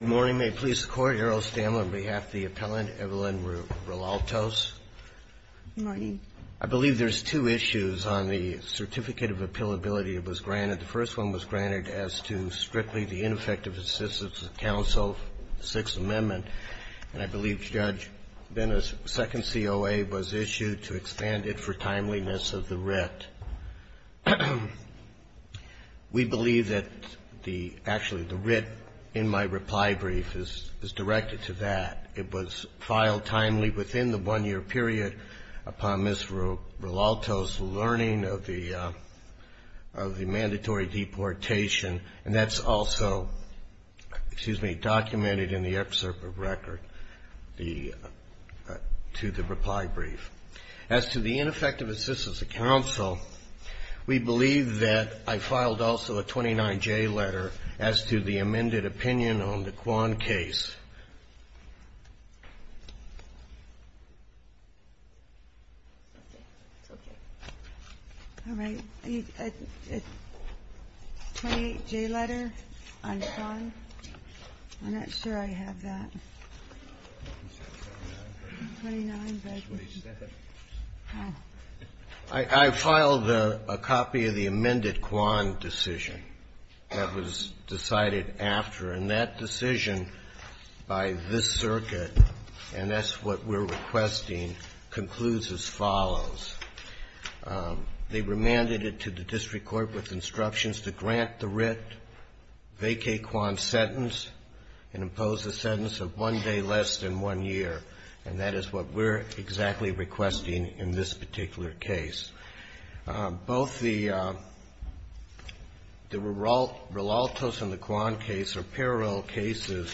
Good morning. May it please the Court, Your Honor, I stand on behalf of the appellant, Evelyn Relatos. Good morning. I believe there's two issues on the certificate of appealability that was granted. The first one was granted as to strictly the ineffective assistance of counsel, Sixth Amendment, and I believe Judge Bennis, second COA, was issued to expand it for timeliness of the writ. We believe that actually the writ in my reply brief is directed to that. It was filed timely within the one-year period upon Ms. Relatos' learning of the mandatory deportation, and that's also documented in the excerpt of record to the reply brief. As to the ineffective assistance of counsel, we believe that I filed also a 29J letter as to the amended opinion on the Quan case. I filed a copy of the amended Quan decision that was decided after, and that decision by this circuit, and that's what we're requesting, concludes as follows. They remanded it to the district court with instructions to grant the writ, vacate Quan's sentence, and impose a sentence of one day less than one year. And that is what we're exactly requesting in this particular case. Both the Relatos and the Quan case are parallel cases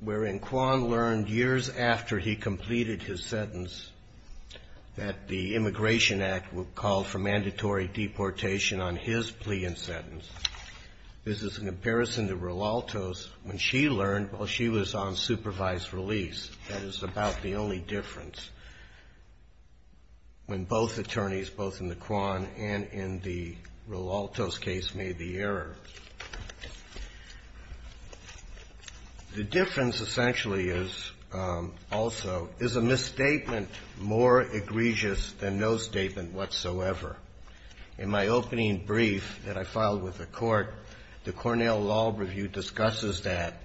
wherein Quan learned years after he completed his sentence that the Immigration Act would call for mandatory deportation on his plea and sentence. This is in comparison to Relatos when she learned while she was on supervised release. That is about the only difference when both attorneys, both in the Quan and in the Relatos case, made the error. The difference essentially is, also, is a misstatement more egregious than no statement whatsoever. In my opening brief that I filed with the court, the Cornell Law Review discusses that.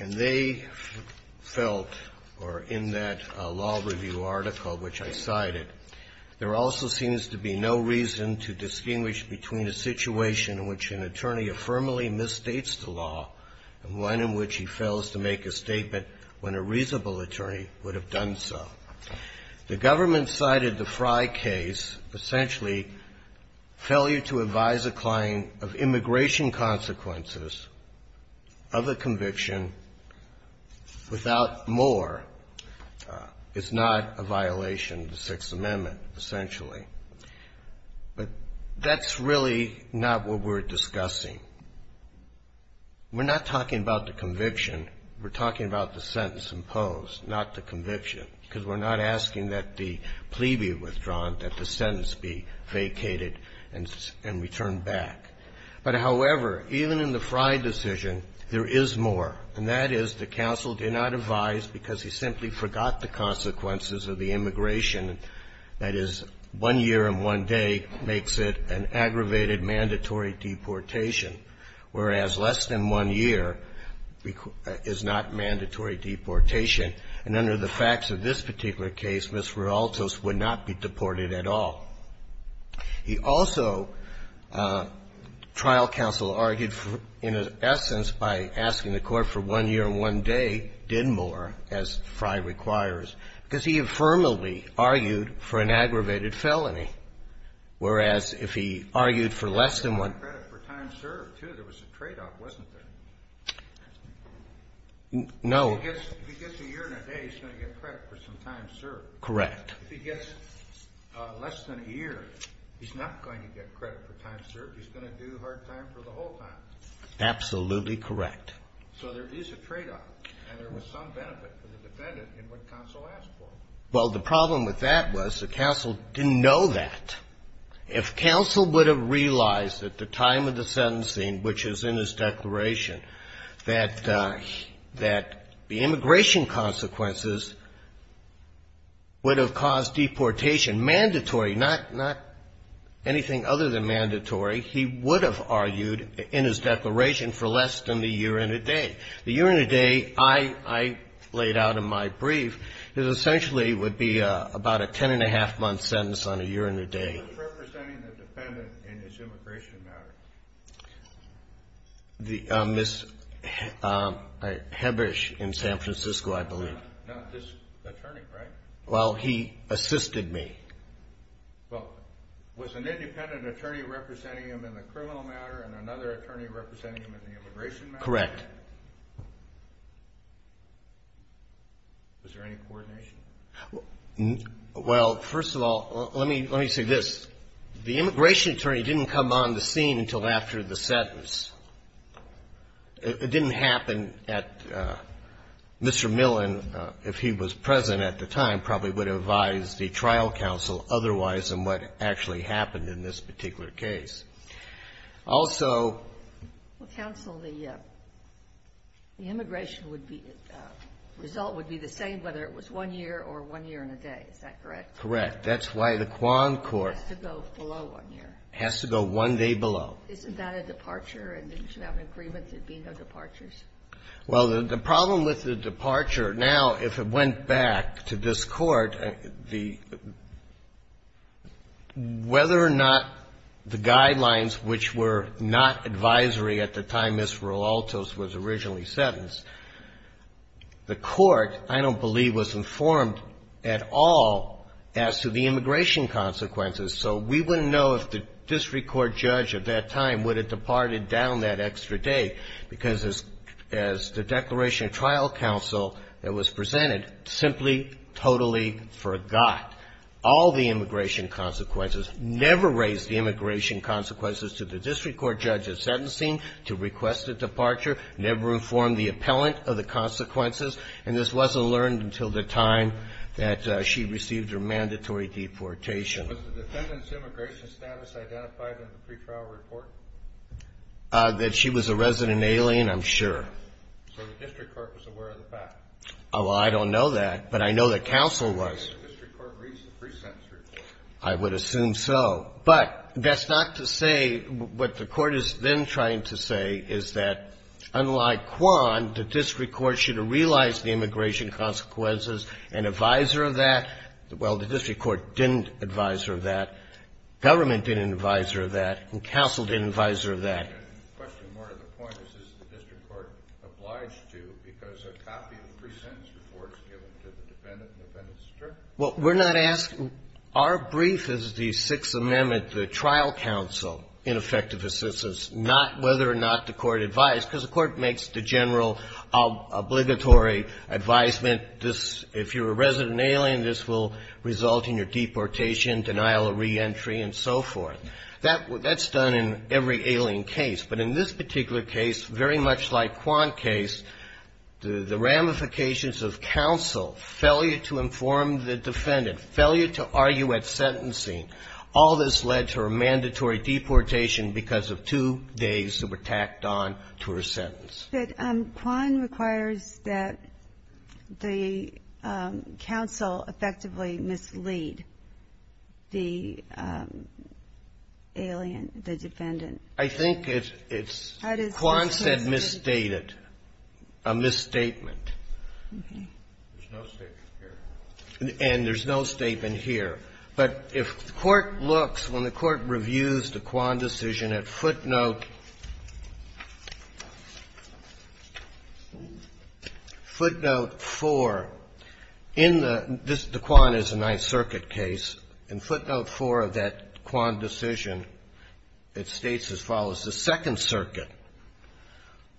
And they felt, or in that law review article which I cited, there also seems to be no reason to distinguish between a situation in which an attorney affirmably misstates the law and one in which he fails to make a statement when a reasonable attorney would have done so. The government cited the Frye case, essentially failure to advise a client of immigration consequences of a conviction without more. It's not a violation of the Sixth Amendment, essentially. But that's really not what we're discussing. We're not talking about the conviction. We're talking about the sentence imposed, not the conviction, because we're not asking that the plea be withdrawn, that the sentence be vacated and returned back. But, however, even in the Frye decision, there is more. And that is the counsel did not advise because he simply forgot the consequences of the immigration, that is, one year and one day makes it an aggravated mandatory deportation. Whereas less than one year is not mandatory deportation. And under the facts of this particular case, Ms. Rualtos would not be deported at all. He also, trial counsel argued, in essence, by asking the Court for one year and one day, did more, as Frye requires, because he affirmably argued for an aggravated felony. Whereas if he argued for less than one. There was a tradeoff, wasn't there? No. If he gets a year and a day, he's going to get credit for some time served. Correct. If he gets less than a year, he's not going to get credit for time served. He's going to do hard time for the whole time. Absolutely correct. So there is a tradeoff, and there was some benefit for the defendant in what counsel asked for. Well, the problem with that was the counsel didn't know that. If counsel would have realized at the time of the sentencing, which is in his declaration, that the immigration consequences would have caused deportation, mandatory, not anything other than mandatory, he would have argued in his declaration for less than the year and a day. The year and a day, I laid out in my brief, essentially would be about a ten-and-a-half-month sentence on a year and a day. Who was representing the defendant in his immigration matter? Ms. Hebbish in San Francisco, I believe. Not this attorney, right? Well, he assisted me. Well, was an independent attorney representing him in the criminal matter and another attorney representing him in the immigration matter? Correct. Was there any coordination? Well, first of all, let me say this. The immigration attorney didn't come on the scene until after the sentence. It didn't happen at Mr. Millen. If he was present at the time, probably would have advised the trial counsel otherwise than what actually happened in this particular case. Also ---- Counsel, the immigration would be, result would be the same whether it was one year or one year and a day. Is that correct? Correct. That's why the Quan Court ---- Has to go below one year. Has to go one day below. Isn't that a departure? And didn't you have an agreement there would be no departures? Well, the problem with the departure, now, if it went back to this Court, the, whether or not the guidelines which were not advisory at the time Ms. Rualtos was originally sentenced, the Court, I don't believe, was informed at all as to the immigration consequences. So we wouldn't know if the district court judge at that time would have departed down that extra day because as the declaration of trial counsel that was presented simply totally forgot all the immigration consequences, never raised the immigration consequences to the district court judge at sentencing to request a departure, never informed the appellant of the consequences, and this wasn't learned until the time that she received her mandatory deportation. Was the defendant's immigration status identified in the pretrial report? That she was a resident alien, I'm sure. So the district court was aware of the fact. Well, I don't know that, but I know that counsel was. Did the district court read the pre-sentence report? I would assume so. But that's not to say, what the Court is then trying to say is that, unlike Kwan, the district court should have realized the immigration consequences and advisor of that. Well, the district court didn't advisor of that. Government didn't advisor of that. And counsel didn't advisor of that. The question more to the point is, is the district court obliged to, because a copy of the pre-sentence report is given to the defendant and the defendant is stripped? Well, we're not asking. Our brief is the Sixth Amendment, the trial counsel in effective assistance, not whether or not the court advised, because the court makes the general obligatory advisement, if you're a resident alien, this will result in your deportation, denial of reentry, and so forth. That's done in every alien case. But in this particular case, very much like Kwan's case, the ramifications of counsel, failure to inform the defendant, failure to argue at sentencing, all this led to her mandatory deportation because of two days that were tacked on to her sentence. But Kwan requires that the counsel effectively mislead the alien, the defendant. I think it's Kwan said misstated, a misstatement. Okay. There's no statement here. And there's no statement here. But if the court looks, when the court reviews the Kwan decision at footnote 4, in the the Kwan is a Ninth Circuit case. In footnote 4 of that Kwan decision, it states as follows. The Second Circuit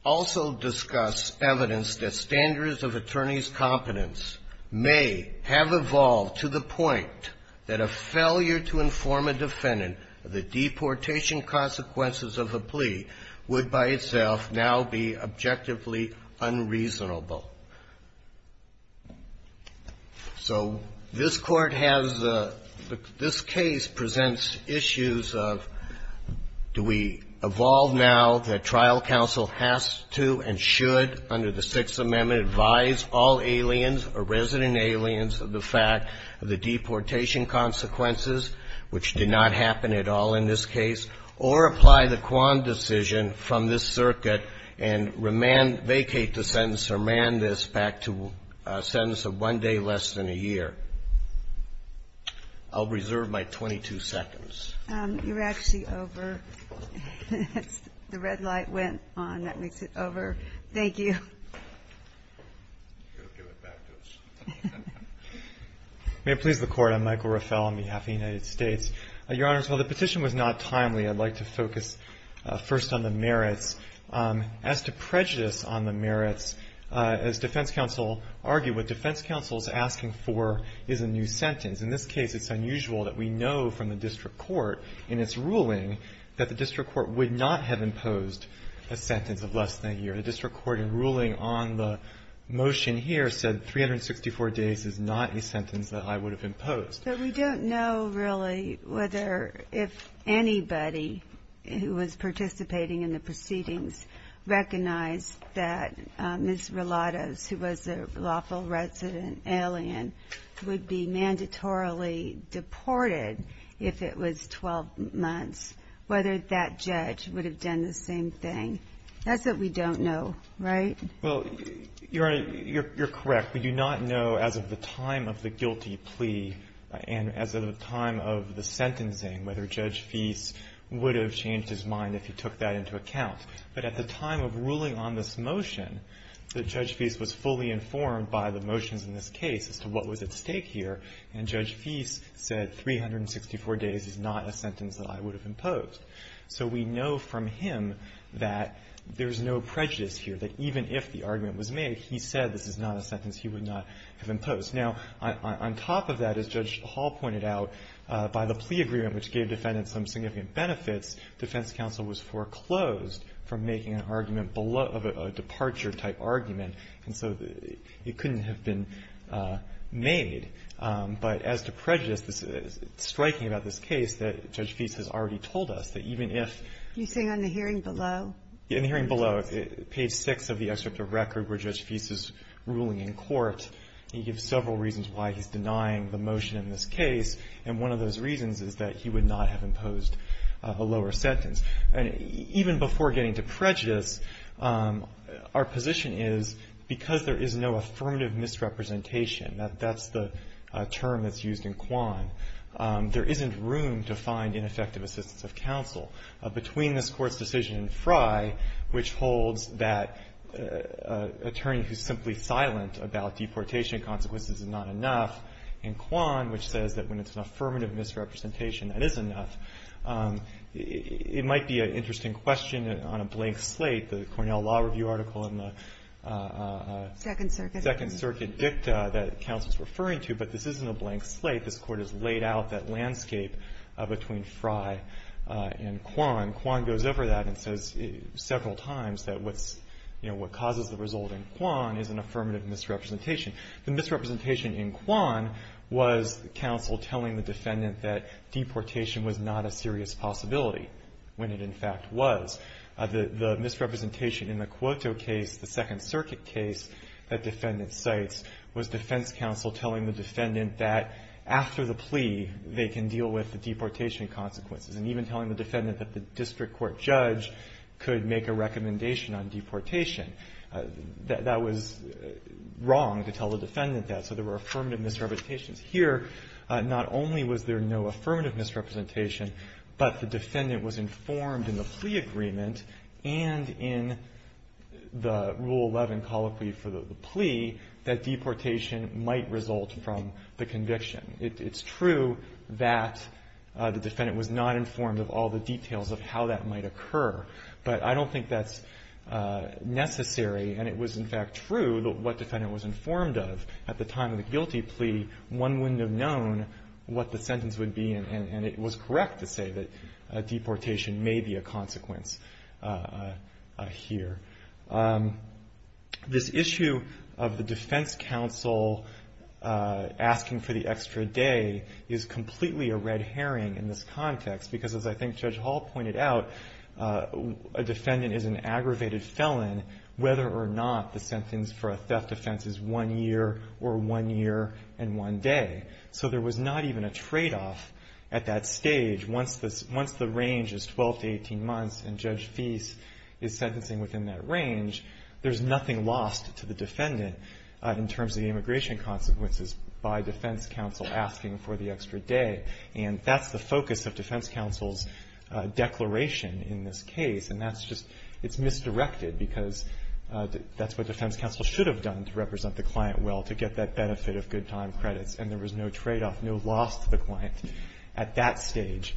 also discuss evidence that standards of attorney's competence may have evolved to the point that a failure to inform a defendant of the deportation consequences of a plea would by itself now be objectively unreasonable. So this Court has a, this case presents issues of do we evolve now that trial counsel has to and should, under the Sixth Amendment, advise all aliens or prisoners or resident aliens of the fact of the deportation consequences, which did not happen at all in this case, or apply the Kwan decision from this circuit and remand, vacate the sentence or man this back to a sentence of one day less than a year. I'll reserve my 22 seconds. You're actually over. The red light went on. That makes it over. Thank you. Go give it back to us. May it please the Court. I'm Michael Raffel on behalf of the United States. Your Honors, while the petition was not timely, I'd like to focus first on the merits. As to prejudice on the merits, as defense counsel argued, what defense counsel is asking for is a new sentence. In this case, it's unusual that we know from the district court in its ruling on the motion here said 364 days is not a sentence that I would have imposed. But we don't know really whether if anybody who was participating in the proceedings recognized that Ms. Relatos, who was a lawful resident alien, would be mandatorily deported if it was 12 months, whether that judge would have done the same thing. That's what we don't know, right? Well, Your Honor, you're correct. We do not know as of the time of the guilty plea and as of the time of the sentencing whether Judge Feist would have changed his mind if he took that into account. But at the time of ruling on this motion, Judge Feist was fully informed by the motions in this case as to what was at stake here, and Judge Feist said 364 days is not a sentence that I would have imposed. So we know from him that there's no prejudice here, that even if the argument was made, he said this is not a sentence he would not have imposed. Now, on top of that, as Judge Hall pointed out, by the plea agreement, which gave defendants some significant benefits, defense counsel was foreclosed from making an argument of a departure-type argument, and so it couldn't have been made. But as to prejudice, it's striking about this case that Judge Feist has already told us that even if... You're saying on the hearing below? In the hearing below, page 6 of the excerpt of record where Judge Feist is ruling in court, he gives several reasons why he's denying the motion in this case, and one of those reasons is that he would not have imposed a lower sentence. And even before getting to prejudice, our position is because there is no affirmative misrepresentation, that's the term that's used in Quan, there isn't room to find ineffective assistance of counsel. Between this Court's decision in Frye, which holds that an attorney who's simply silent about deportation consequences is not enough, and Quan, which says that when it's an affirmative misrepresentation, that is enough, it might be an interesting question on a blank slate. The Cornell Law Review article in the... Second Circuit. Second Circuit dicta that counsel's referring to, but this isn't a blank slate. This Court has laid out that landscape between Frye and Quan. Quan goes over that and says several times that what causes the result in Quan is an affirmative misrepresentation. The misrepresentation in Quan was counsel telling the defendant that deportation was not a serious possibility, when it in fact was. The misrepresentation in the Cuoto case, the Second Circuit case that defendant cites, was defense counsel telling the defendant that after the plea, they can deal with the deportation consequences, and even telling the defendant that the district court judge could make a recommendation on deportation. That was wrong to tell the defendant that, so there were affirmative misrepresentations. Here, not only was there no affirmative misrepresentation, but the defendant was saying that deportation might result from the conviction. It's true that the defendant was not informed of all the details of how that might occur, but I don't think that's necessary, and it was in fact true that what defendant was informed of at the time of the guilty plea, one wouldn't have known what the sentence would be, and it was correct to say that deportation may be a consequence here. This issue of the defense counsel asking for the extra day is completely a red herring in this context, because as I think Judge Hall pointed out, a defendant is an aggravated felon whether or not the sentence for a theft offense is one year or one year and one day. So there was not even a tradeoff at that stage, once the range is 12 to 18 months and Judge Feist is sentencing within that range, there's nothing lost to the defendant in terms of the immigration consequences by defense counsel asking for the extra day. And that's the focus of defense counsel's declaration in this case, and that's just, it's misdirected because that's what defense counsel should have done to represent the client well, to get that benefit of good time credits. And there was no tradeoff, no loss to the client at that stage.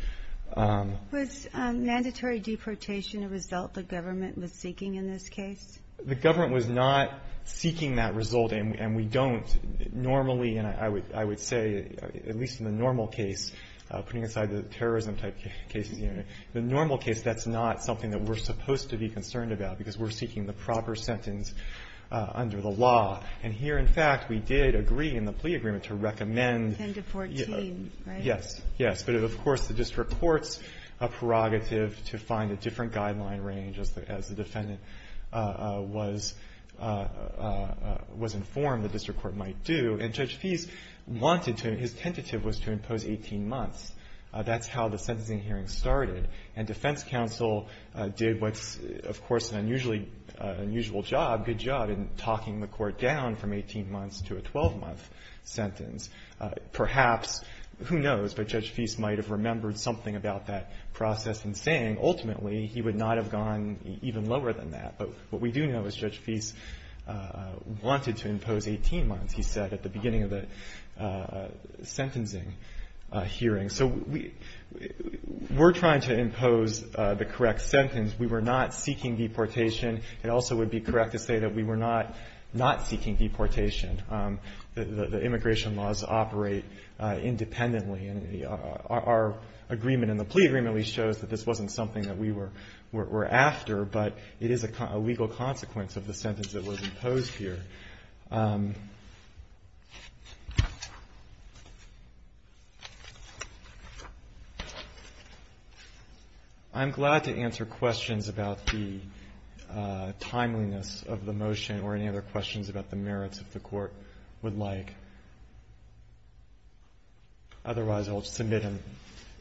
Was mandatory deportation a result the government was seeking in this case? The government was not seeking that result, and we don't normally, and I would say, at least in the normal case, putting aside the terrorism type cases, the normal case, that's not something that we're supposed to be concerned about because we're seeking the proper sentence under the law. And here, in fact, we did agree in the plea agreement to recommend 10 to 14, right? Yes. But, of course, the district court's prerogative to find a different guideline range as the defendant was informed the district court might do. And Judge Feist wanted to, his tentative was to impose 18 months. That's how the sentencing hearing started. And defense counsel did what's, of course, an unusually unusual job, good job, in talking the court down from 18 months to a 12-month sentence. Perhaps, who knows, but Judge Feist might have remembered something about that process in saying, ultimately, he would not have gone even lower than that. But what we do know is Judge Feist wanted to impose 18 months, he said, at the beginning of the sentencing hearing. So we're trying to impose the correct sentence. We were not seeking deportation. It also would be correct to say that we were not not seeking deportation. The immigration laws operate independently. And our agreement in the plea agreement at least shows that this wasn't something that we were after, but it is a legal consequence of the sentence that was imposed here. I'm glad to answer questions about the timeliness of the motion or any other questions about the merits if the Court would like. Otherwise, I'll submit them.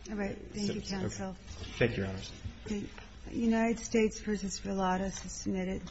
All right. Thank you, counsel. Thank you, Your Honor. The United States v. Verlades is submitted.